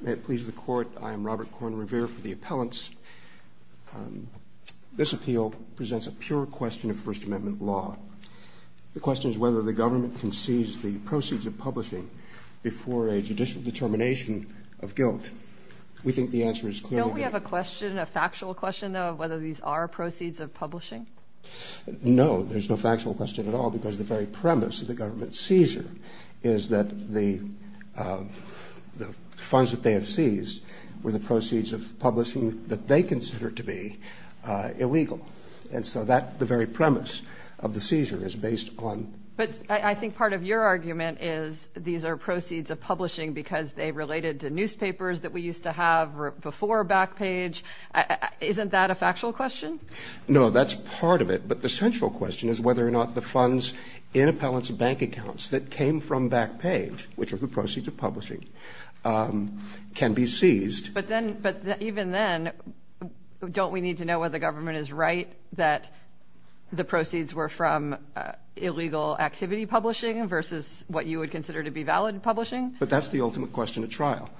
May it please the Court, I am Robert Korn Revere for the Appellants. This appeal presents a pure question of First Amendment law. The question is whether the government can seize the proceeds of publishing before a judicial determination of guilt. We think the answer is clear. Don't we have a question, a factual question though, of whether these are proceeds of publishing? No, there's no factual question at all because the very premise of the government seizure is that the funds that they have seized were the proceeds of publishing that they consider to be illegal. And so that, the very premise of the seizure is based on But I think part of your argument is these are proceeds of publishing because they related to newspapers that we used to have before Backpage. Isn't that a factual question? No, that's part of it. But the central question is whether or not the funds in Appellants bank accounts that came from Backpage, which are the proceeds of publishing, can be seized. But then, even then, don't we need to know whether the government is right that the proceeds were from illegal activity publishing versus what you would consider to be valid publishing? But that's the ultimate question at trial.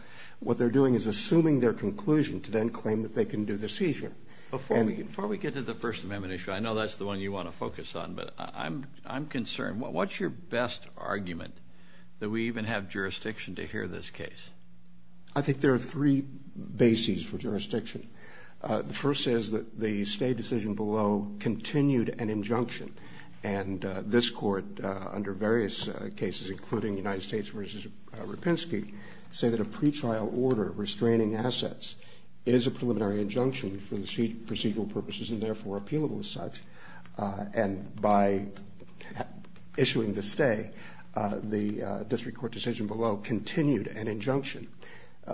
What they're doing is assuming their conclusion to then claim that they can do the seizure. Before we get to the First Amendment issue, I know that's the one you want to focus on, but I'm concerned. What's your best argument that we even have jurisdiction to hear this case? I think there are three bases for jurisdiction. The first is that the State decision below continued an injunction. And this Court, under various cases, including United States v. Rapinski, say that a pretrial order restraining assets is a preliminary injunction for the procedural purposes and, therefore, appealable as such. And by issuing the stay, the District Court decision below continued an injunction.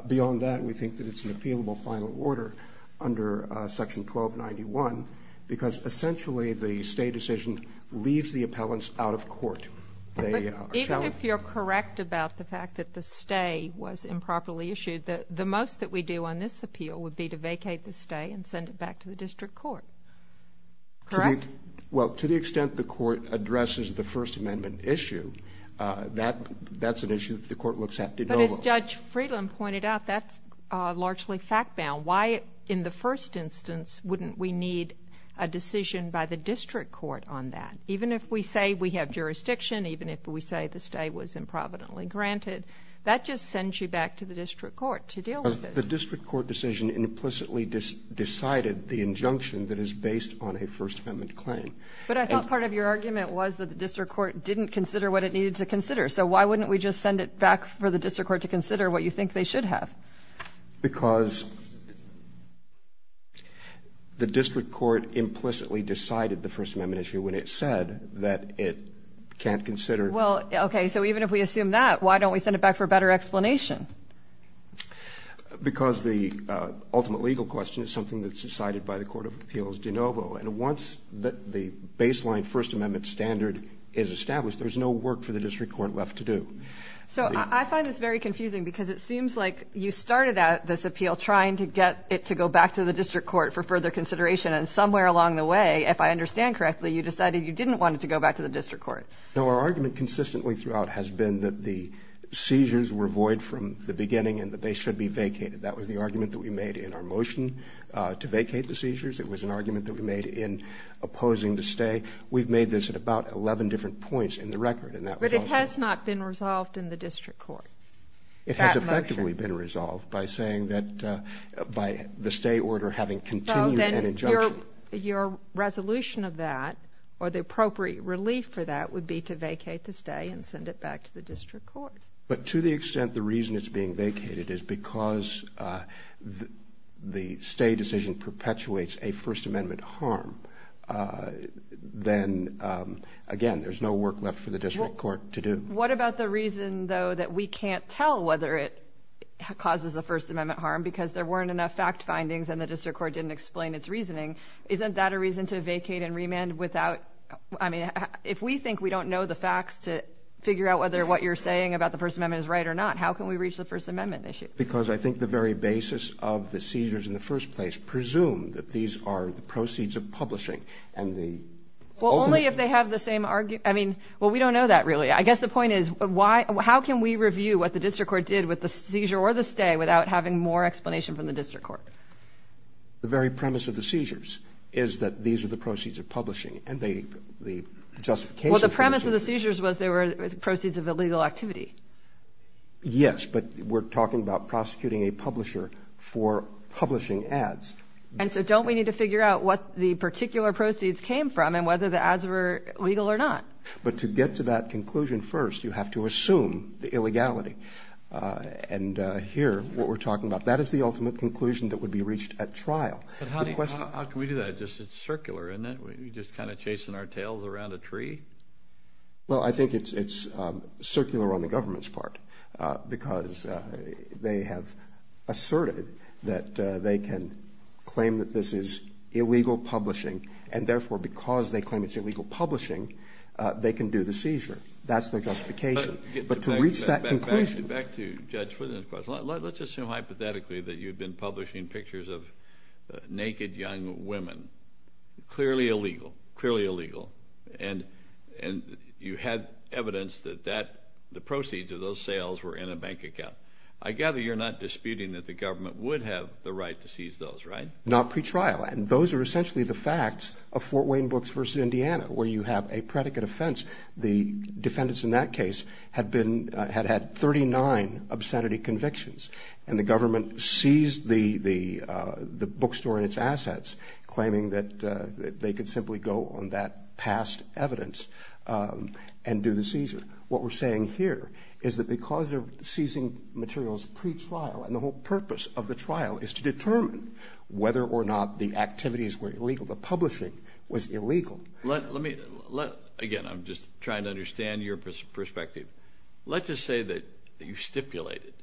Beyond that, we think that it's an appealable final order under Section 1291 because, essentially, the State decision leaves the Appellants out of court. But even if you're correct about the fact that the stay was improperly issued, the most that we do on this appeal would be to vacate the stay and send it back to the District Court. Correct? Well, to the extent the Court addresses the First Amendment issue, that's an issue that the Court looks at. But as Judge Friedland pointed out, that's largely fact-bound. Why, in the first instance, wouldn't we need a decision by the District Court on that? Even if we say we have jurisdiction, even if we say the stay was improvidently granted, that just sends you back to the District Court to deal with this. But the District Court decision implicitly decided the injunction that is based on a First Amendment claim. But I thought part of your argument was that the District Court didn't consider what it needed to consider. So why wouldn't we just send it back for the District Court to consider what you think they should have? Because the District Court implicitly decided the First Amendment issue when it said that it can't consider — Well, okay, so even if we assume that, why don't we send it back for better explanation? Because the ultimate legal question is something that's decided by the Court of Appeals de novo. And once the baseline First Amendment standard is established, there's no work for the District Court left to do. So I find this very confusing, because it seems like you started out this appeal trying to get it to go back to the District Court for further consideration. And somewhere along the way, if I understand correctly, you decided you didn't want it to go back to the District Court. No, our argument consistently throughout has been that the seizures were void from the beginning and that they should be vacated. That was the argument that we made in our motion to vacate the seizures. It was an argument that we made in opposing the stay. We've made this at about 11 different points in the record, and that was also — But it has not been resolved in the District Court, that motion. It has effectively been resolved by saying that — by the stay order having continued an injunction. Your resolution of that, or the appropriate relief for that, would be to vacate the stay and send it back to the District Court. But to the extent the reason it's being vacated is because the stay decision perpetuates a First Amendment harm, then, again, there's no work left for the District Court to do. What about the reason, though, that we can't tell whether it causes a First Amendment harm because there weren't enough fact findings and the District Court didn't explain its reasoning, isn't that a reason to vacate and remand without — I mean, if we think we don't know the facts to figure out whether what you're saying about the First Amendment is right or not, how can we reach the First Amendment issue? Because I think the very basis of the seizures in the first place presumed that these are the proceeds of publishing, and the — Well, only if they have the same — I mean, well, we don't know that, really. I guess the point is, how can we review what the District Court did with the seizure or the stay without having more explanation from the District Court? But the very premise of the seizures is that these are the proceeds of publishing, and the justification for the seizures — Well, the premise of the seizures was they were proceeds of illegal activity. Yes, but we're talking about prosecuting a publisher for publishing ads. And so don't we need to figure out what the particular proceeds came from and whether the ads were legal or not? But to get to that conclusion first, you have to assume the illegality. And here, what we're talking about is the conclusion that would be reached at trial. But how do you — how can we do that? It's just circular, isn't it? We're just kind of chasing our tails around a tree? Well, I think it's circular on the government's part, because they have asserted that they can claim that this is illegal publishing, and therefore, because they claim it's illegal publishing, they can do the seizure. That's their justification. But to reach that conclusion — Well, let's say you're a publisher and you're publishing pictures of naked young women. Clearly illegal. Clearly illegal. And you had evidence that the proceeds of those sales were in a bank account. I gather you're not disputing that the government would have the right to seize those, right? Not pretrial. And those are essentially the facts of Fort Wayne Books v. Indiana, where you have a predicate offense. The defendants in that case had had 39 obscenity convictions, and the government seized the bookstore and its assets, claiming that they could simply go on that past evidence and do the seizure. What we're saying here is that because they're seizing materials pretrial, and the whole purpose of the trial is to determine whether or not the activities were illegal, the publishing was illegal — Let me — again, I'm just trying to understand your perspective. Let's just say that you stipulated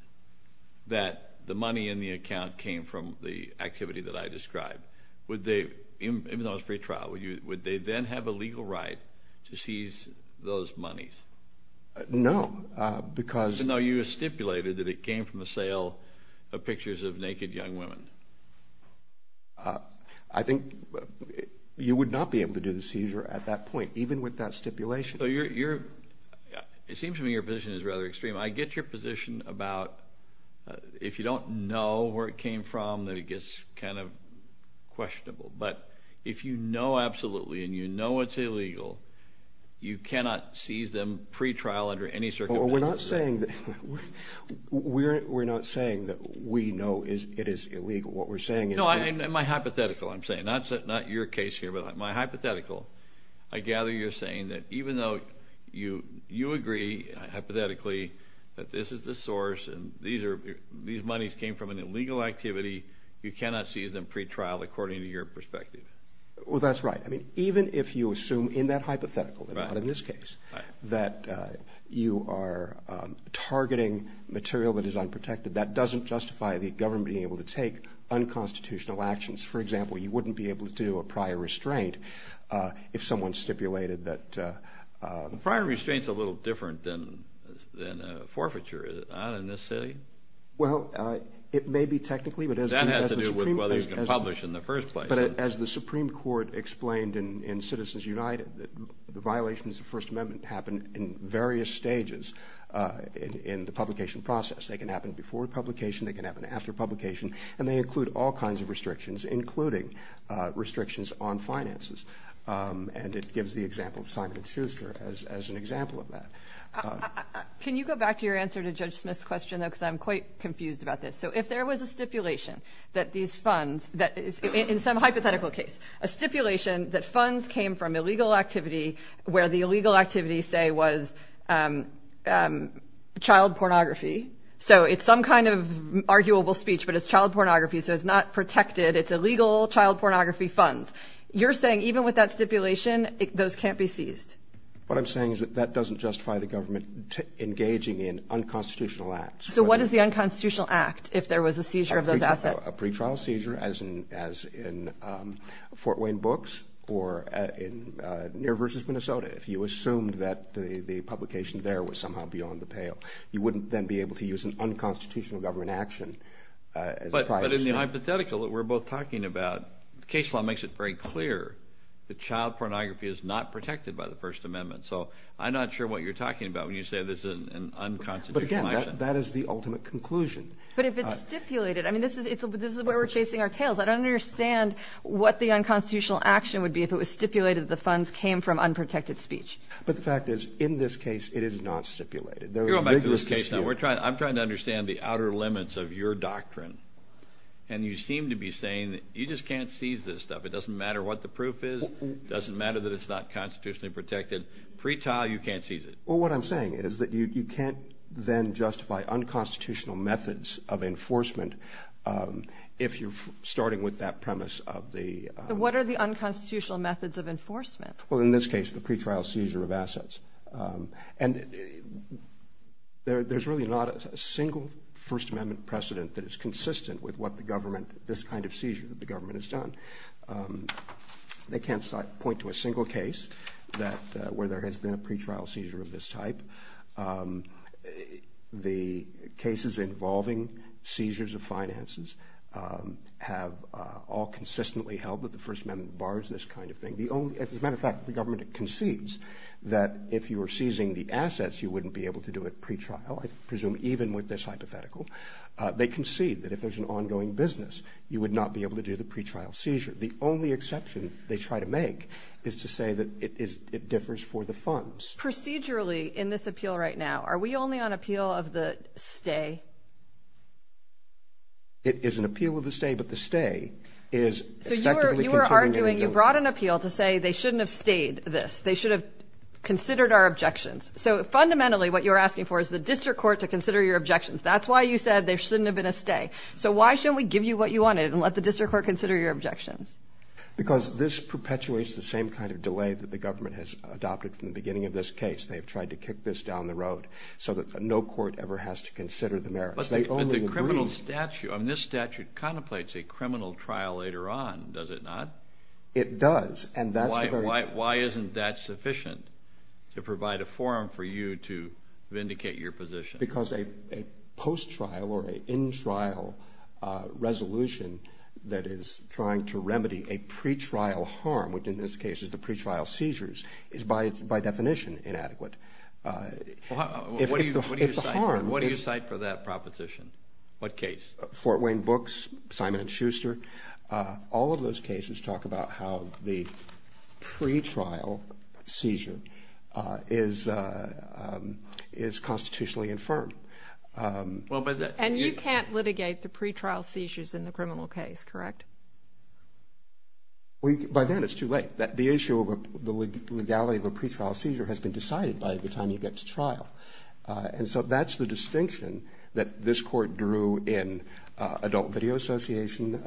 that the money in the account came from the activity that I described. Would they — even though it was pretrial, would they then have a legal right to seize those monies? No, because — No, you stipulated that it came from the sale of pictures of naked young women. I think you would not be able to do the seizure at that point, even with that stipulation. It seems to me your position is rather extreme. I get your position about if you don't know where it came from, that it gets kind of questionable. But if you know absolutely, and you know it's illegal, you cannot seize them pretrial under any circumstances. We're not saying that — we're not saying that we know it is illegal. What we're saying is that — No, my hypothetical, I'm saying. Not your case here, but my hypothetical. I gather you're saying that even though you agree, hypothetically, that this is the source, and these monies came from an illegal activity, you cannot seize them pretrial according to your perspective. Well, that's right. I mean, even if you assume in that hypothetical, and not in this case, that you are targeting material that is unprotected, that doesn't justify the government being able to take unconstitutional actions. For example, you wouldn't be able to do a prior restraint if someone stipulated that — A prior restraint's a little different than a forfeiture, is it not, in this city? Well, it may be technically, but as the Supreme Court — That has to do with whether you can publish in the first place. But as the Supreme Court explained in Citizens United, the violations of the First Amendment happen in various stages in the publication process. They can happen before publication, they can happen after publication, and they include all kinds of restrictions, including restrictions on finances. And it gives the example of Simon & Schuster as an example of that. Can you go back to your answer to Judge Smith's question, though, because I'm quite confused about this. So if there was a stipulation that these funds — in some hypothetical case, a stipulation that funds came from illegal activity where the illegal activity, say, was child pornography — so it's some kind of arguable speech, but it's child pornography, so it's not protected. It's illegal child pornography funds. You're saying even with that stipulation, those can't be seized? What I'm saying is that that doesn't justify the government engaging in unconstitutional acts. So what is the unconstitutional act if there was a seizure of those assets? A pretrial seizure, as in Fort Wayne Books or in Near vs. Minnesota. If you assumed that the publication there was somehow beyond the pale, you wouldn't then be able to use an unconstitutional action. The hypothetical that we're both talking about, the case law makes it very clear that child pornography is not protected by the First Amendment. So I'm not sure what you're talking about when you say this is an unconstitutional action. But again, that is the ultimate conclusion. But if it's stipulated — I mean, this is where we're chasing our tails. I don't understand what the unconstitutional action would be if it was stipulated that the funds came from unprotected speech. But the fact is, in this case, it is not stipulated. You're going back to this case now. I'm trying to understand the outer limits of your doctrine. And you seem to be saying that you just can't seize this stuff. It doesn't matter what the proof is. It doesn't matter that it's not constitutionally protected. Pretrial, you can't seize it. Well, what I'm saying is that you can't then justify unconstitutional methods of enforcement if you're starting with that premise of the — What are the unconstitutional methods of enforcement? Well, in this case, the pretrial seizure of assets. And there's really not a single First Amendment precedent that is consistent with what the government — this kind of seizure that the government has done. They can't point to a single case that — where there has been a pretrial seizure of this type. The cases involving seizures of finances have all consistently held that the First Amendment bars this kind of thing. The only — as a matter of fact, the government concedes that if you were seizing the assets, you wouldn't be able to do a pretrial, I presume, even with this hypothetical. They concede that if there's an ongoing business, you would not be able to do the pretrial seizure. The only exception they try to make is to say that it differs for the funds. Procedurally, in this appeal right now, are we only on appeal of the stay? It is an appeal of the stay, but the stay is effectively — So you were arguing — you brought an appeal to say they shouldn't have stayed this. They should have considered our objections. So fundamentally, what you're asking for is the district court to consider your objections. That's why you said there shouldn't have been a stay. So why shouldn't we give you what you wanted and let the district court consider your objections? Because this perpetuates the same kind of delay that the government has adopted from the beginning of this case. They have tried to kick this down the road so that no court ever has to consider the merits. But the criminal statute — I mean, this statute contemplates a criminal trial later on, does it not? It does, and that's the very — Why isn't that sufficient to provide a forum for you to vindicate your position? Because a post-trial or an in-trial resolution that is trying to remedy a pre-trial harm, which in this case is the pre-trial seizures, is by definition inadequate. If the harm is — What do you cite for that proposition? What case? Fort Wayne Books, Simon & Schuster. All of those cases talk about how the pre-trial seizure is constitutionally infirmed. And you can't litigate the pre-trial seizures in the criminal case, correct? By then it's too late. The issue of the legality of a pre-trial seizure has been decided by the time you get to trial. And so that's the distinction that this court drew in Adult Video Association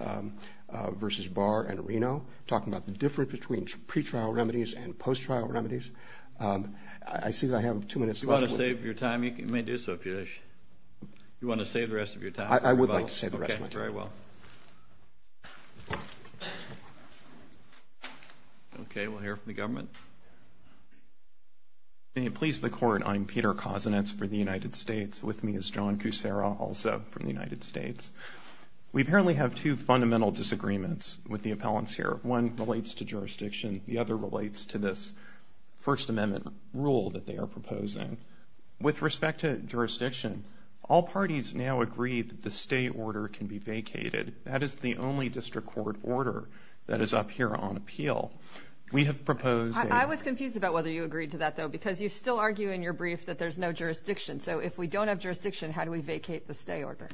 versus Barr and Reno, talking about the difference between pre-trial remedies and post-trial remedies. I see that I have two minutes left. Do you want to save your time? You may do so if you wish. Do you want to save the rest of your time? I would like to save the rest of my time. Very well. Okay, we'll hear from the government. If you please the court, I'm Peter Kosinetz for the United States. With me is John Kucera, also from the United States. We apparently have two fundamental disagreements with the appellants here. One relates to jurisdiction. The other relates to this First Amendment rule that they are proposing. With respect to jurisdiction, all parties now agree that the stay order can be vacated. That is the only district court order that is up here on appeal. We have proposed... I was confused about whether you agreed to that, though, because you still argue in your brief that there's no jurisdiction. So if we don't have jurisdiction, how do we vacate the stay order?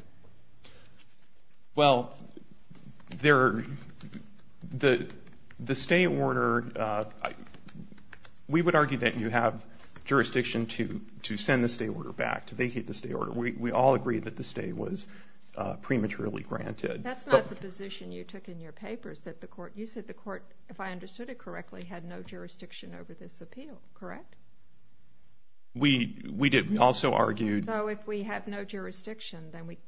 Well, the stay order... We would argue that you have jurisdiction to send the stay order back, to vacate the stay order. We all agree that the stay was prematurely granted. That's not the position you took in your papers that the court... If I understood it correctly, had no jurisdiction over this appeal, correct? We did. We also argued... So if we have no jurisdiction, then we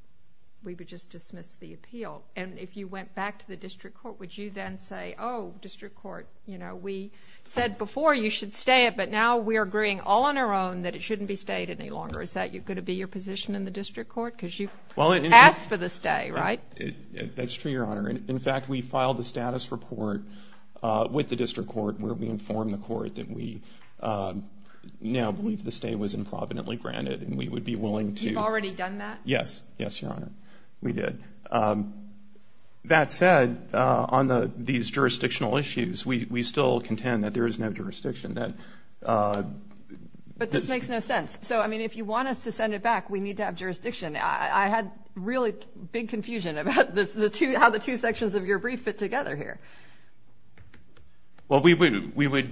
would just dismiss the appeal. And if you went back to the district court, would you then say, oh, district court, you know, we said before you should stay it, but now we're agreeing all on our own that it shouldn't be stayed any longer. Is that going to be your position in the district court? Because you've asked for the stay, right? That's true, Your Honor. In fact, we filed a status report with the district court where we informed the court that we now believe the stay was improvidently granted and we would be willing to... You've already done that? Yes. Yes, Your Honor. We did. That said, on these jurisdictional issues, we still contend that there is no jurisdiction that... But this makes no sense. So, I mean, if you want us to send it back, we need to have jurisdiction. I had really big confusion about how the two sections of your brief fit together here. Well, we would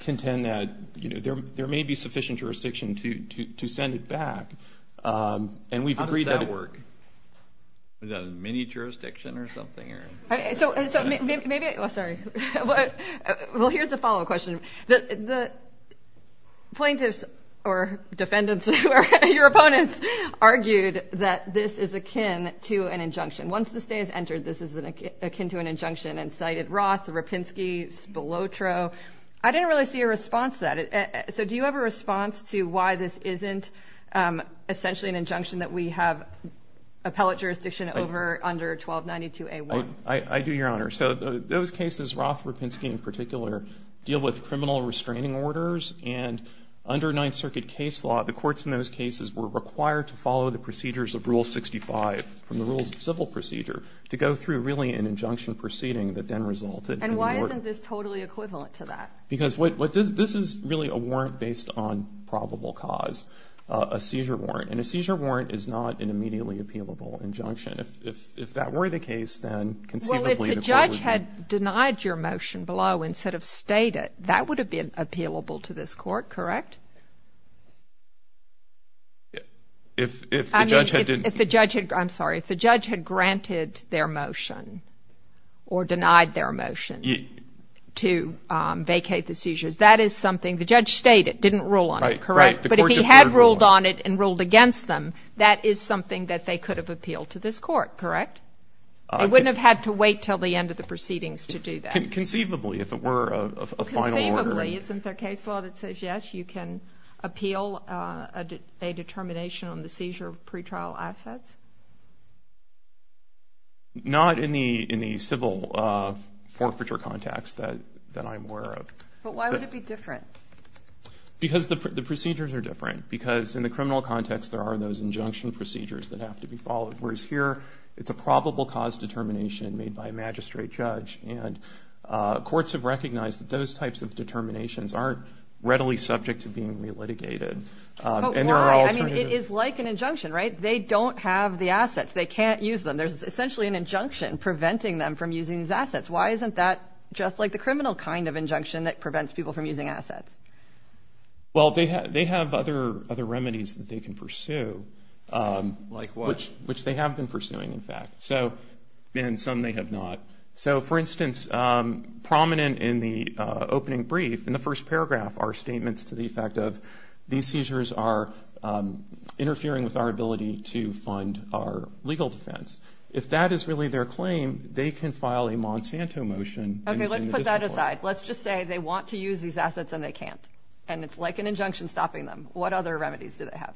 contend that, you know, there may be sufficient jurisdiction to send it back. And we've agreed that... How does that work? Is that a mini-jurisdiction or something? So maybe... Sorry. Well, here's the follow-up question. The plaintiffs or defendants or your opponents argued that this is akin to an injunction. Once the stay is entered, this is akin to an injunction and cited Roth, Rapinski, Spilotro. I didn't really see a response to that. So do you have a response to why this isn't essentially an injunction that we have appellate jurisdiction over under 1292A1? I do, Your Honor. So those cases, Roth, Rapinski in particular, deal with criminal restraining orders. And under Ninth Circuit case law, the courts in those cases were required to follow the procedures of Rule 65 from the Rules of Civil Procedure to go through really an injunction proceeding that then resulted... And why isn't this totally equivalent to that? Because this is really a warrant based on probable cause, a seizure warrant. And a seizure warrant is not an immediately appealable injunction. If that were the case, then conceivably... Well, if the judge had denied your motion below instead of stated, that would have been appealable to this Court, correct? If the judge had... I'm sorry. If the judge had granted their motion or denied their motion to vacate the seizures, that is something the judge stated, didn't rule on it, correct? But if he had ruled on it and ruled against them, that is something that they could have appealed to this Court, correct? They wouldn't have had to wait till the end of the proceedings to do that. Conceivably, if it were a final order... Conceivably. Isn't there case law that says, yes, you can appeal a determination on the seizure of pretrial assets? Not in the civil forfeiture context that I'm aware of. But why would it be different? Because the procedures are different. Because in the criminal context, there are those injunction procedures that have to be followed. Whereas here, it's a probable cause determination made by a magistrate judge. And courts have recognized that those types of determinations aren't readily subject to being re-litigated. But why? I mean, it is like an injunction, right? They don't have the assets. They can't use them. There's essentially an injunction preventing them from using these assets. Why isn't that just like the criminal kind of injunction that prevents people from using assets? Well, they have other remedies that they can pursue. Like what? Which they have been pursuing, in fact. So, and some they have not. So, for instance, prominent in the opening brief, in the first paragraph, are statements to the effect of, these seizures are interfering with our ability to fund our legal defense. If that is really their claim, they can file a Monsanto motion. OK, let's put that aside. Let's just say they want to use these assets and they can't. And it's like an injunction stopping them. What other remedies do they have?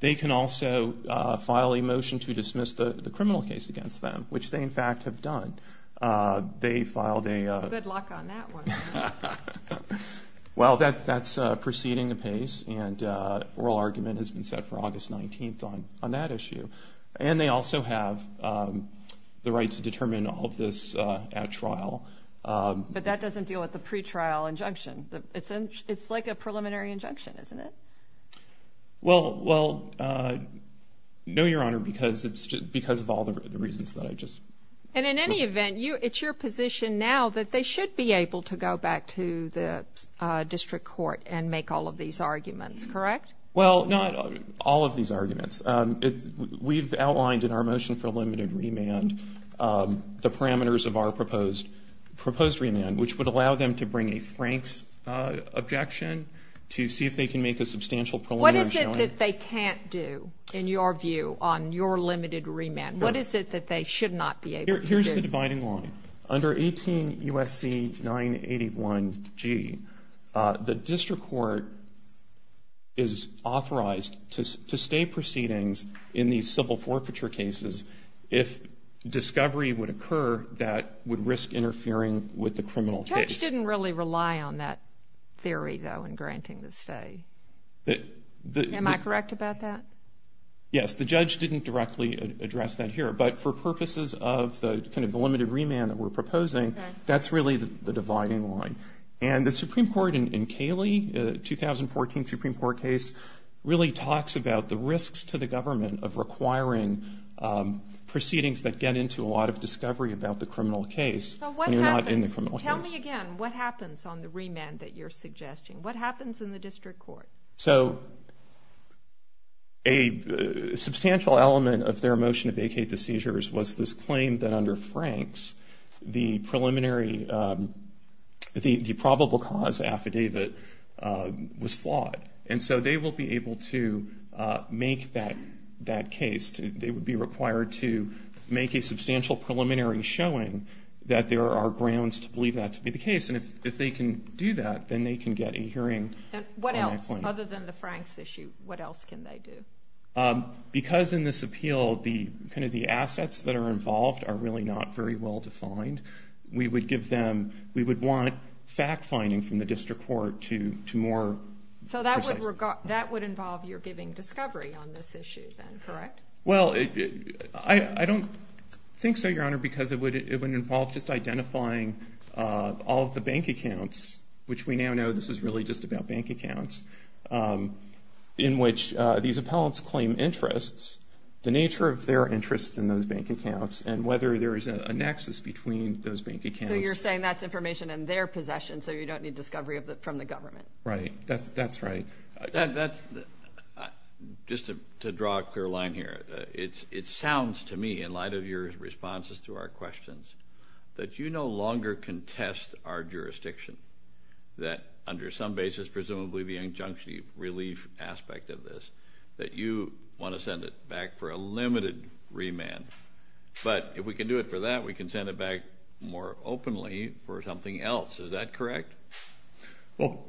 They can also file a motion to dismiss the criminal case against them, which they, in fact, have done. They filed a- Good luck on that one. Well, that's proceeding apace. And oral argument has been set for August 19th on that issue. And they also have the right to determine all of this at trial. But that doesn't deal with the pretrial injunction. It's like a preliminary injunction, isn't it? Well, no, Your Honor, because of all the reasons that I just- And in any event, it's your position now that they should be able to go back to the district court and make all of these arguments, correct? Well, not all of these arguments. We've outlined in our motion for limited remand the parameters of our proposed remand, which would allow them to bring a Franks objection to see if they can make a substantial preliminary showing. What is it that they can't do, in your view, on your limited remand? What is it that they should not be able to do? Here's the dividing line. Under 18 U.S.C. 981G, the district court is authorized to stay proceedings in these civil forfeiture cases if discovery would occur that would risk interfering with the criminal case. Judge didn't really rely on that theory, though, in granting the stay. Am I correct about that? Yes, the judge didn't directly address that here. But for purposes of the kind of limited remand that we're proposing, that's really the dividing line. And the Supreme Court in Cayley, the 2014 Supreme Court case, really talks about the risks to the government of requiring proceedings that get into a lot of discovery about the criminal case when you're not in the criminal case. Tell me again, what happens on the remand that you're suggesting? What happens in the district court? So a substantial element of their motion to vacate the seizures was this claim that under Franks, the probable cause affidavit was flawed. And so they will be able to make that case. They would be required to make a substantial preliminary showing that there are grounds to believe that to be the case. And if they can do that, then they can get a hearing. And what else? Other than the Franks issue, what else can they do? Because in this appeal, the kind of the assets that are involved are really not very well defined. We would want fact-finding from the district court to more... So that would involve your giving discovery on this issue then, correct? Well, I don't think so, Your Honor, because it would involve just identifying all of the bank accounts, which we now know this is really just about bank accounts, in which these appellants claim interests, the nature of their interest in those bank accounts, and whether there is a nexus between those bank accounts. So you're saying that's information in their possession so you don't need discovery from the government? Right, that's right. Just to draw a clear line here, it sounds to me, in light of your responses to our questions, that you no longer contest our jurisdiction that under some basis, presumably the injunctive relief aspect of this, that you want to send it back for a limited remand. But if we can do it for that, we can send it back more openly for something else. Is that correct? Well,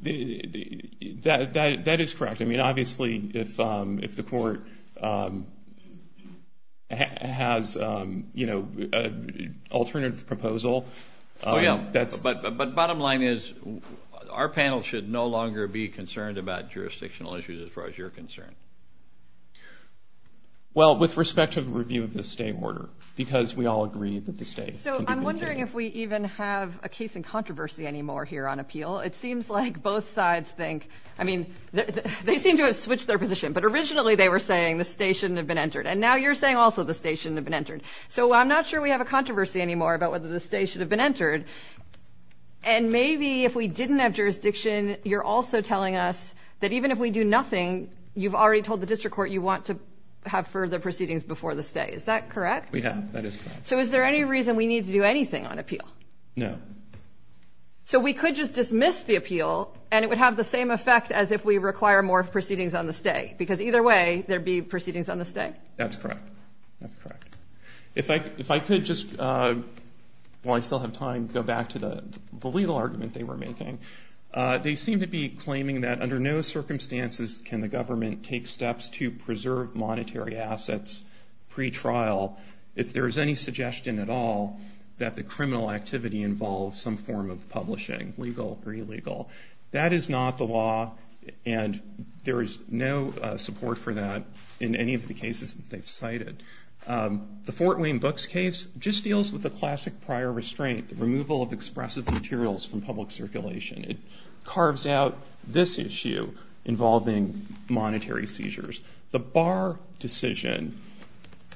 that is correct. I mean, obviously, if the court has, you know, an alternative proposal, that's... But bottom line is, our panel should no longer be concerned about jurisdictional issues, as far as you're concerned. Well, with respect to the review of the state order, because we all agree that the state... I'm wondering if we even have a case in controversy anymore here on appeal. It seems like both sides think... I mean, they seem to have switched their position, but originally they were saying the state shouldn't have been entered. And now you're saying also the state shouldn't have been entered. So I'm not sure we have a controversy anymore about whether the state should have been entered. And maybe if we didn't have jurisdiction, you're also telling us that even if we do nothing, you've already told the district court you want to have further proceedings before the state. Is that correct? We have. That is correct. So is there any reason we need to do anything on appeal? No. So we could just dismiss the appeal, and it would have the same effect as if we require more proceedings on the state? Because either way, there'd be proceedings on the state? That's correct. That's correct. If I could just, while I still have time, go back to the legal argument they were making. They seem to be claiming that under no circumstances can the government take steps to preserve monetary assets pre-trial. If there is any suggestion at all that the criminal activity involves some form of publishing, legal or illegal. That is not the law, and there is no support for that in any of the cases that they've cited. The Fort Wayne Books case just deals with the classic prior restraint, the removal of expressive materials from public circulation. It carves out this issue involving monetary seizures. The Barr decision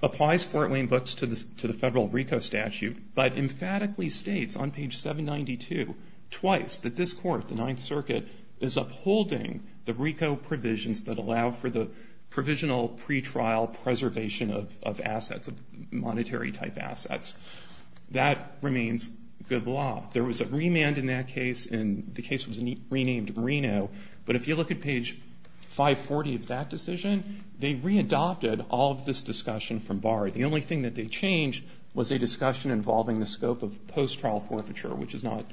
applies Fort Wayne Books to the federal RICO statute, but emphatically states on page 792, twice, that this court, the Ninth Circuit, is upholding the RICO provisions that allow for the provisional pre-trial preservation of assets, of monetary type assets. That remains good law. There was a remand in that case, and the case was renamed Reno. But if you look at page 540 of that decision, they re-adopted all of this discussion from Barr. The only thing that they changed was a discussion involving the scope of post-trial forfeiture, which is not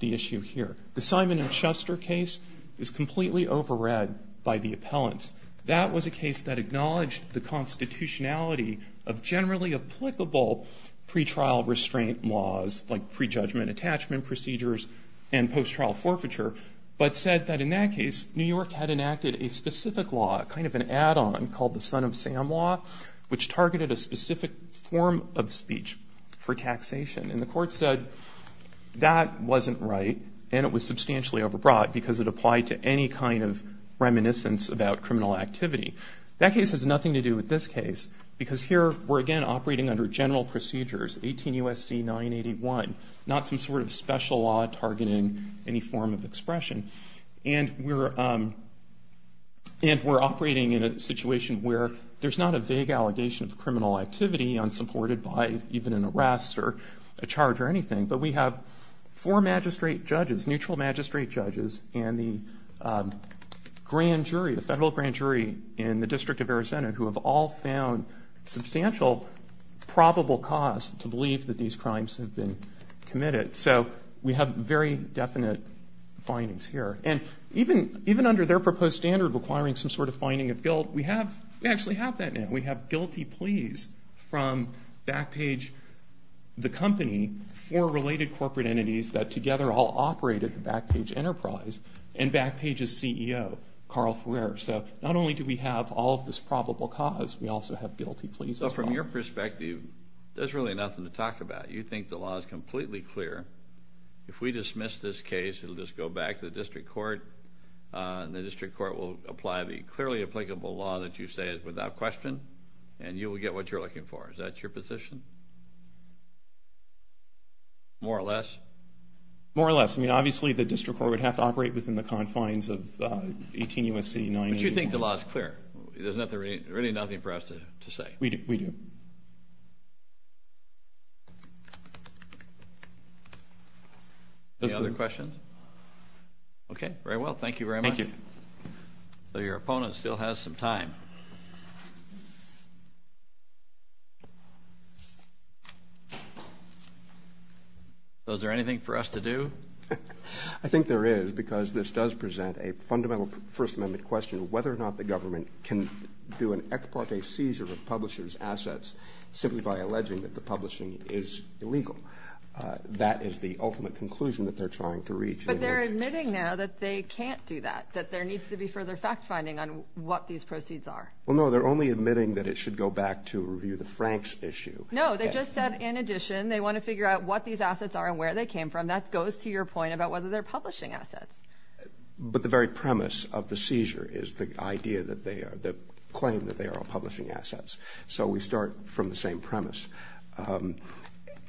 the issue here. The Simon & Schuster case is completely overread by the appellants. That was a case that acknowledged the constitutionality of generally applicable pre-trial restraint laws, like pre-judgment attachment procedures and post-trial forfeiture, but said that in that case, New York had enacted a specific law, kind of an add-on, called the Son of Sam Law, which targeted a specific form of speech for taxation. And the court said that wasn't right, and it was substantially overbrought because it applied to any kind of reminiscence about criminal activity. That case has nothing to do with this case, because here we're, again, operating under general procedures, 18 U.S.C. 981, not some sort of special law targeting any form of expression. And we're operating in a situation where there's not a vague allegation of criminal activity unsupported by even an arrest or a charge or anything, but we have four magistrate judges, neutral magistrate judges, and the grand jury, the federal grand jury in the District of Arizona, who have all found substantial probable cause to believe that these crimes have been committed. So we have very definite findings here. And even under their proposed standard requiring some sort of finding of guilt, we actually have that now. We have guilty pleas from Backpage, the company, four related corporate entities that together all operate at the Backpage Enterprise, and Backpage's CEO, Carl Ferrer. So not only do we have all of this probable cause, we also have guilty pleas as well. So from your perspective, there's really nothing to talk about. You think the law is completely clear. If we dismiss this case, it'll just go back to the district court, and the district court will apply the clearly applicable law that you say is without question, and you will get what you're looking for. Is that your position? More or less? More or less. I mean, obviously, the district court would have to operate within the confines of 18 U.S.C. 981. But you think the law is clear. There's really nothing for us to say. We do. Any other questions? Okay. Very well. Thank you very much. Thank you. So your opponent still has some time. So is there anything for us to do? I think there is, because this does present a fundamental First Amendment question, whether or not the government can do an ex parte seizure of publishers' assets simply by alleging that the publishing is illegal. That is the ultimate conclusion that they're trying to reach. But they're admitting now that they can't do that, that there needs to be further fact-finding on what these proceeds are. Well, no, they're only admitting that it should go back to review the Franks issue. No, they just said, in addition, they want to figure out what these assets are and where they came from. That goes to your point about whether they're publishing assets. But the very premise of the seizure is the idea that they are, the claim that they are all publishing assets. So we start from the same premise.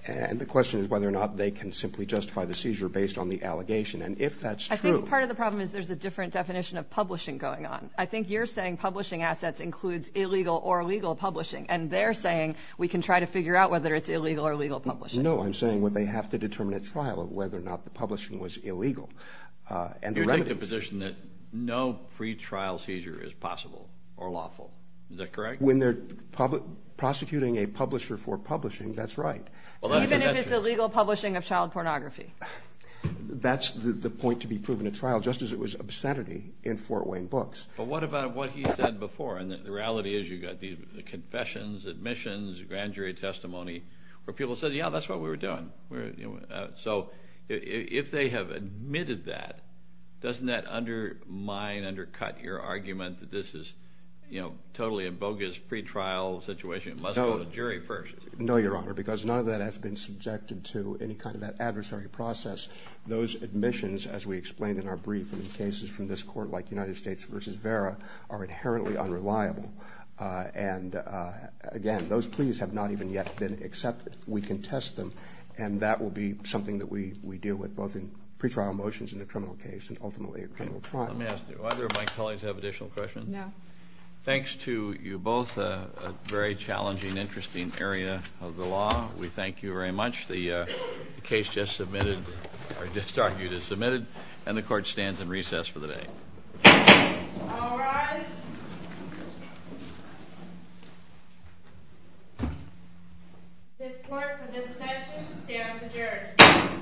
And the question is whether or not they can simply justify the seizure based on the allegation. And if that's true... I think part of the problem is there's a different definition of publishing going on. I think you're saying publishing assets includes illegal or legal publishing. And they're saying we can try to figure out whether it's illegal or legal publishing. No, I'm saying what they have to determine at trial of whether or not the publishing was illegal. And the remedies... You take the position that no pre-trial seizure is possible or lawful. Is that correct? When they're prosecuting a publisher for publishing, that's right. Even if it's illegal publishing of child pornography. That's the point to be proven at trial, just as it was obscenity in Fort Wayne Books. But what about what he said before? And the reality is you've got the confessions, admissions, grand jury testimony, where people said, yeah, that's what we were doing. So if they have admitted that, doesn't that undermine, undercut your argument that this is totally a bogus pre-trial situation? It must go to jury first. No, Your Honor. Because none of that has been subjected to any kind of that adversary process. Those admissions, as we explained in our brief and in cases from this court, like United States v. Vera, are inherently unreliable. And again, those pleas have not even yet been accepted. We can test them. And that will be something that we deal with, both in pre-trial motions in the criminal case and ultimately a criminal trial. Let me ask, do either of my colleagues have additional questions? No. Thanks to you both, a very challenging, interesting area of the law. We thank you very much. The case just submitted, or just argued, is submitted. And the court stands in recess for the day. All rise. This court for this session stands adjourned.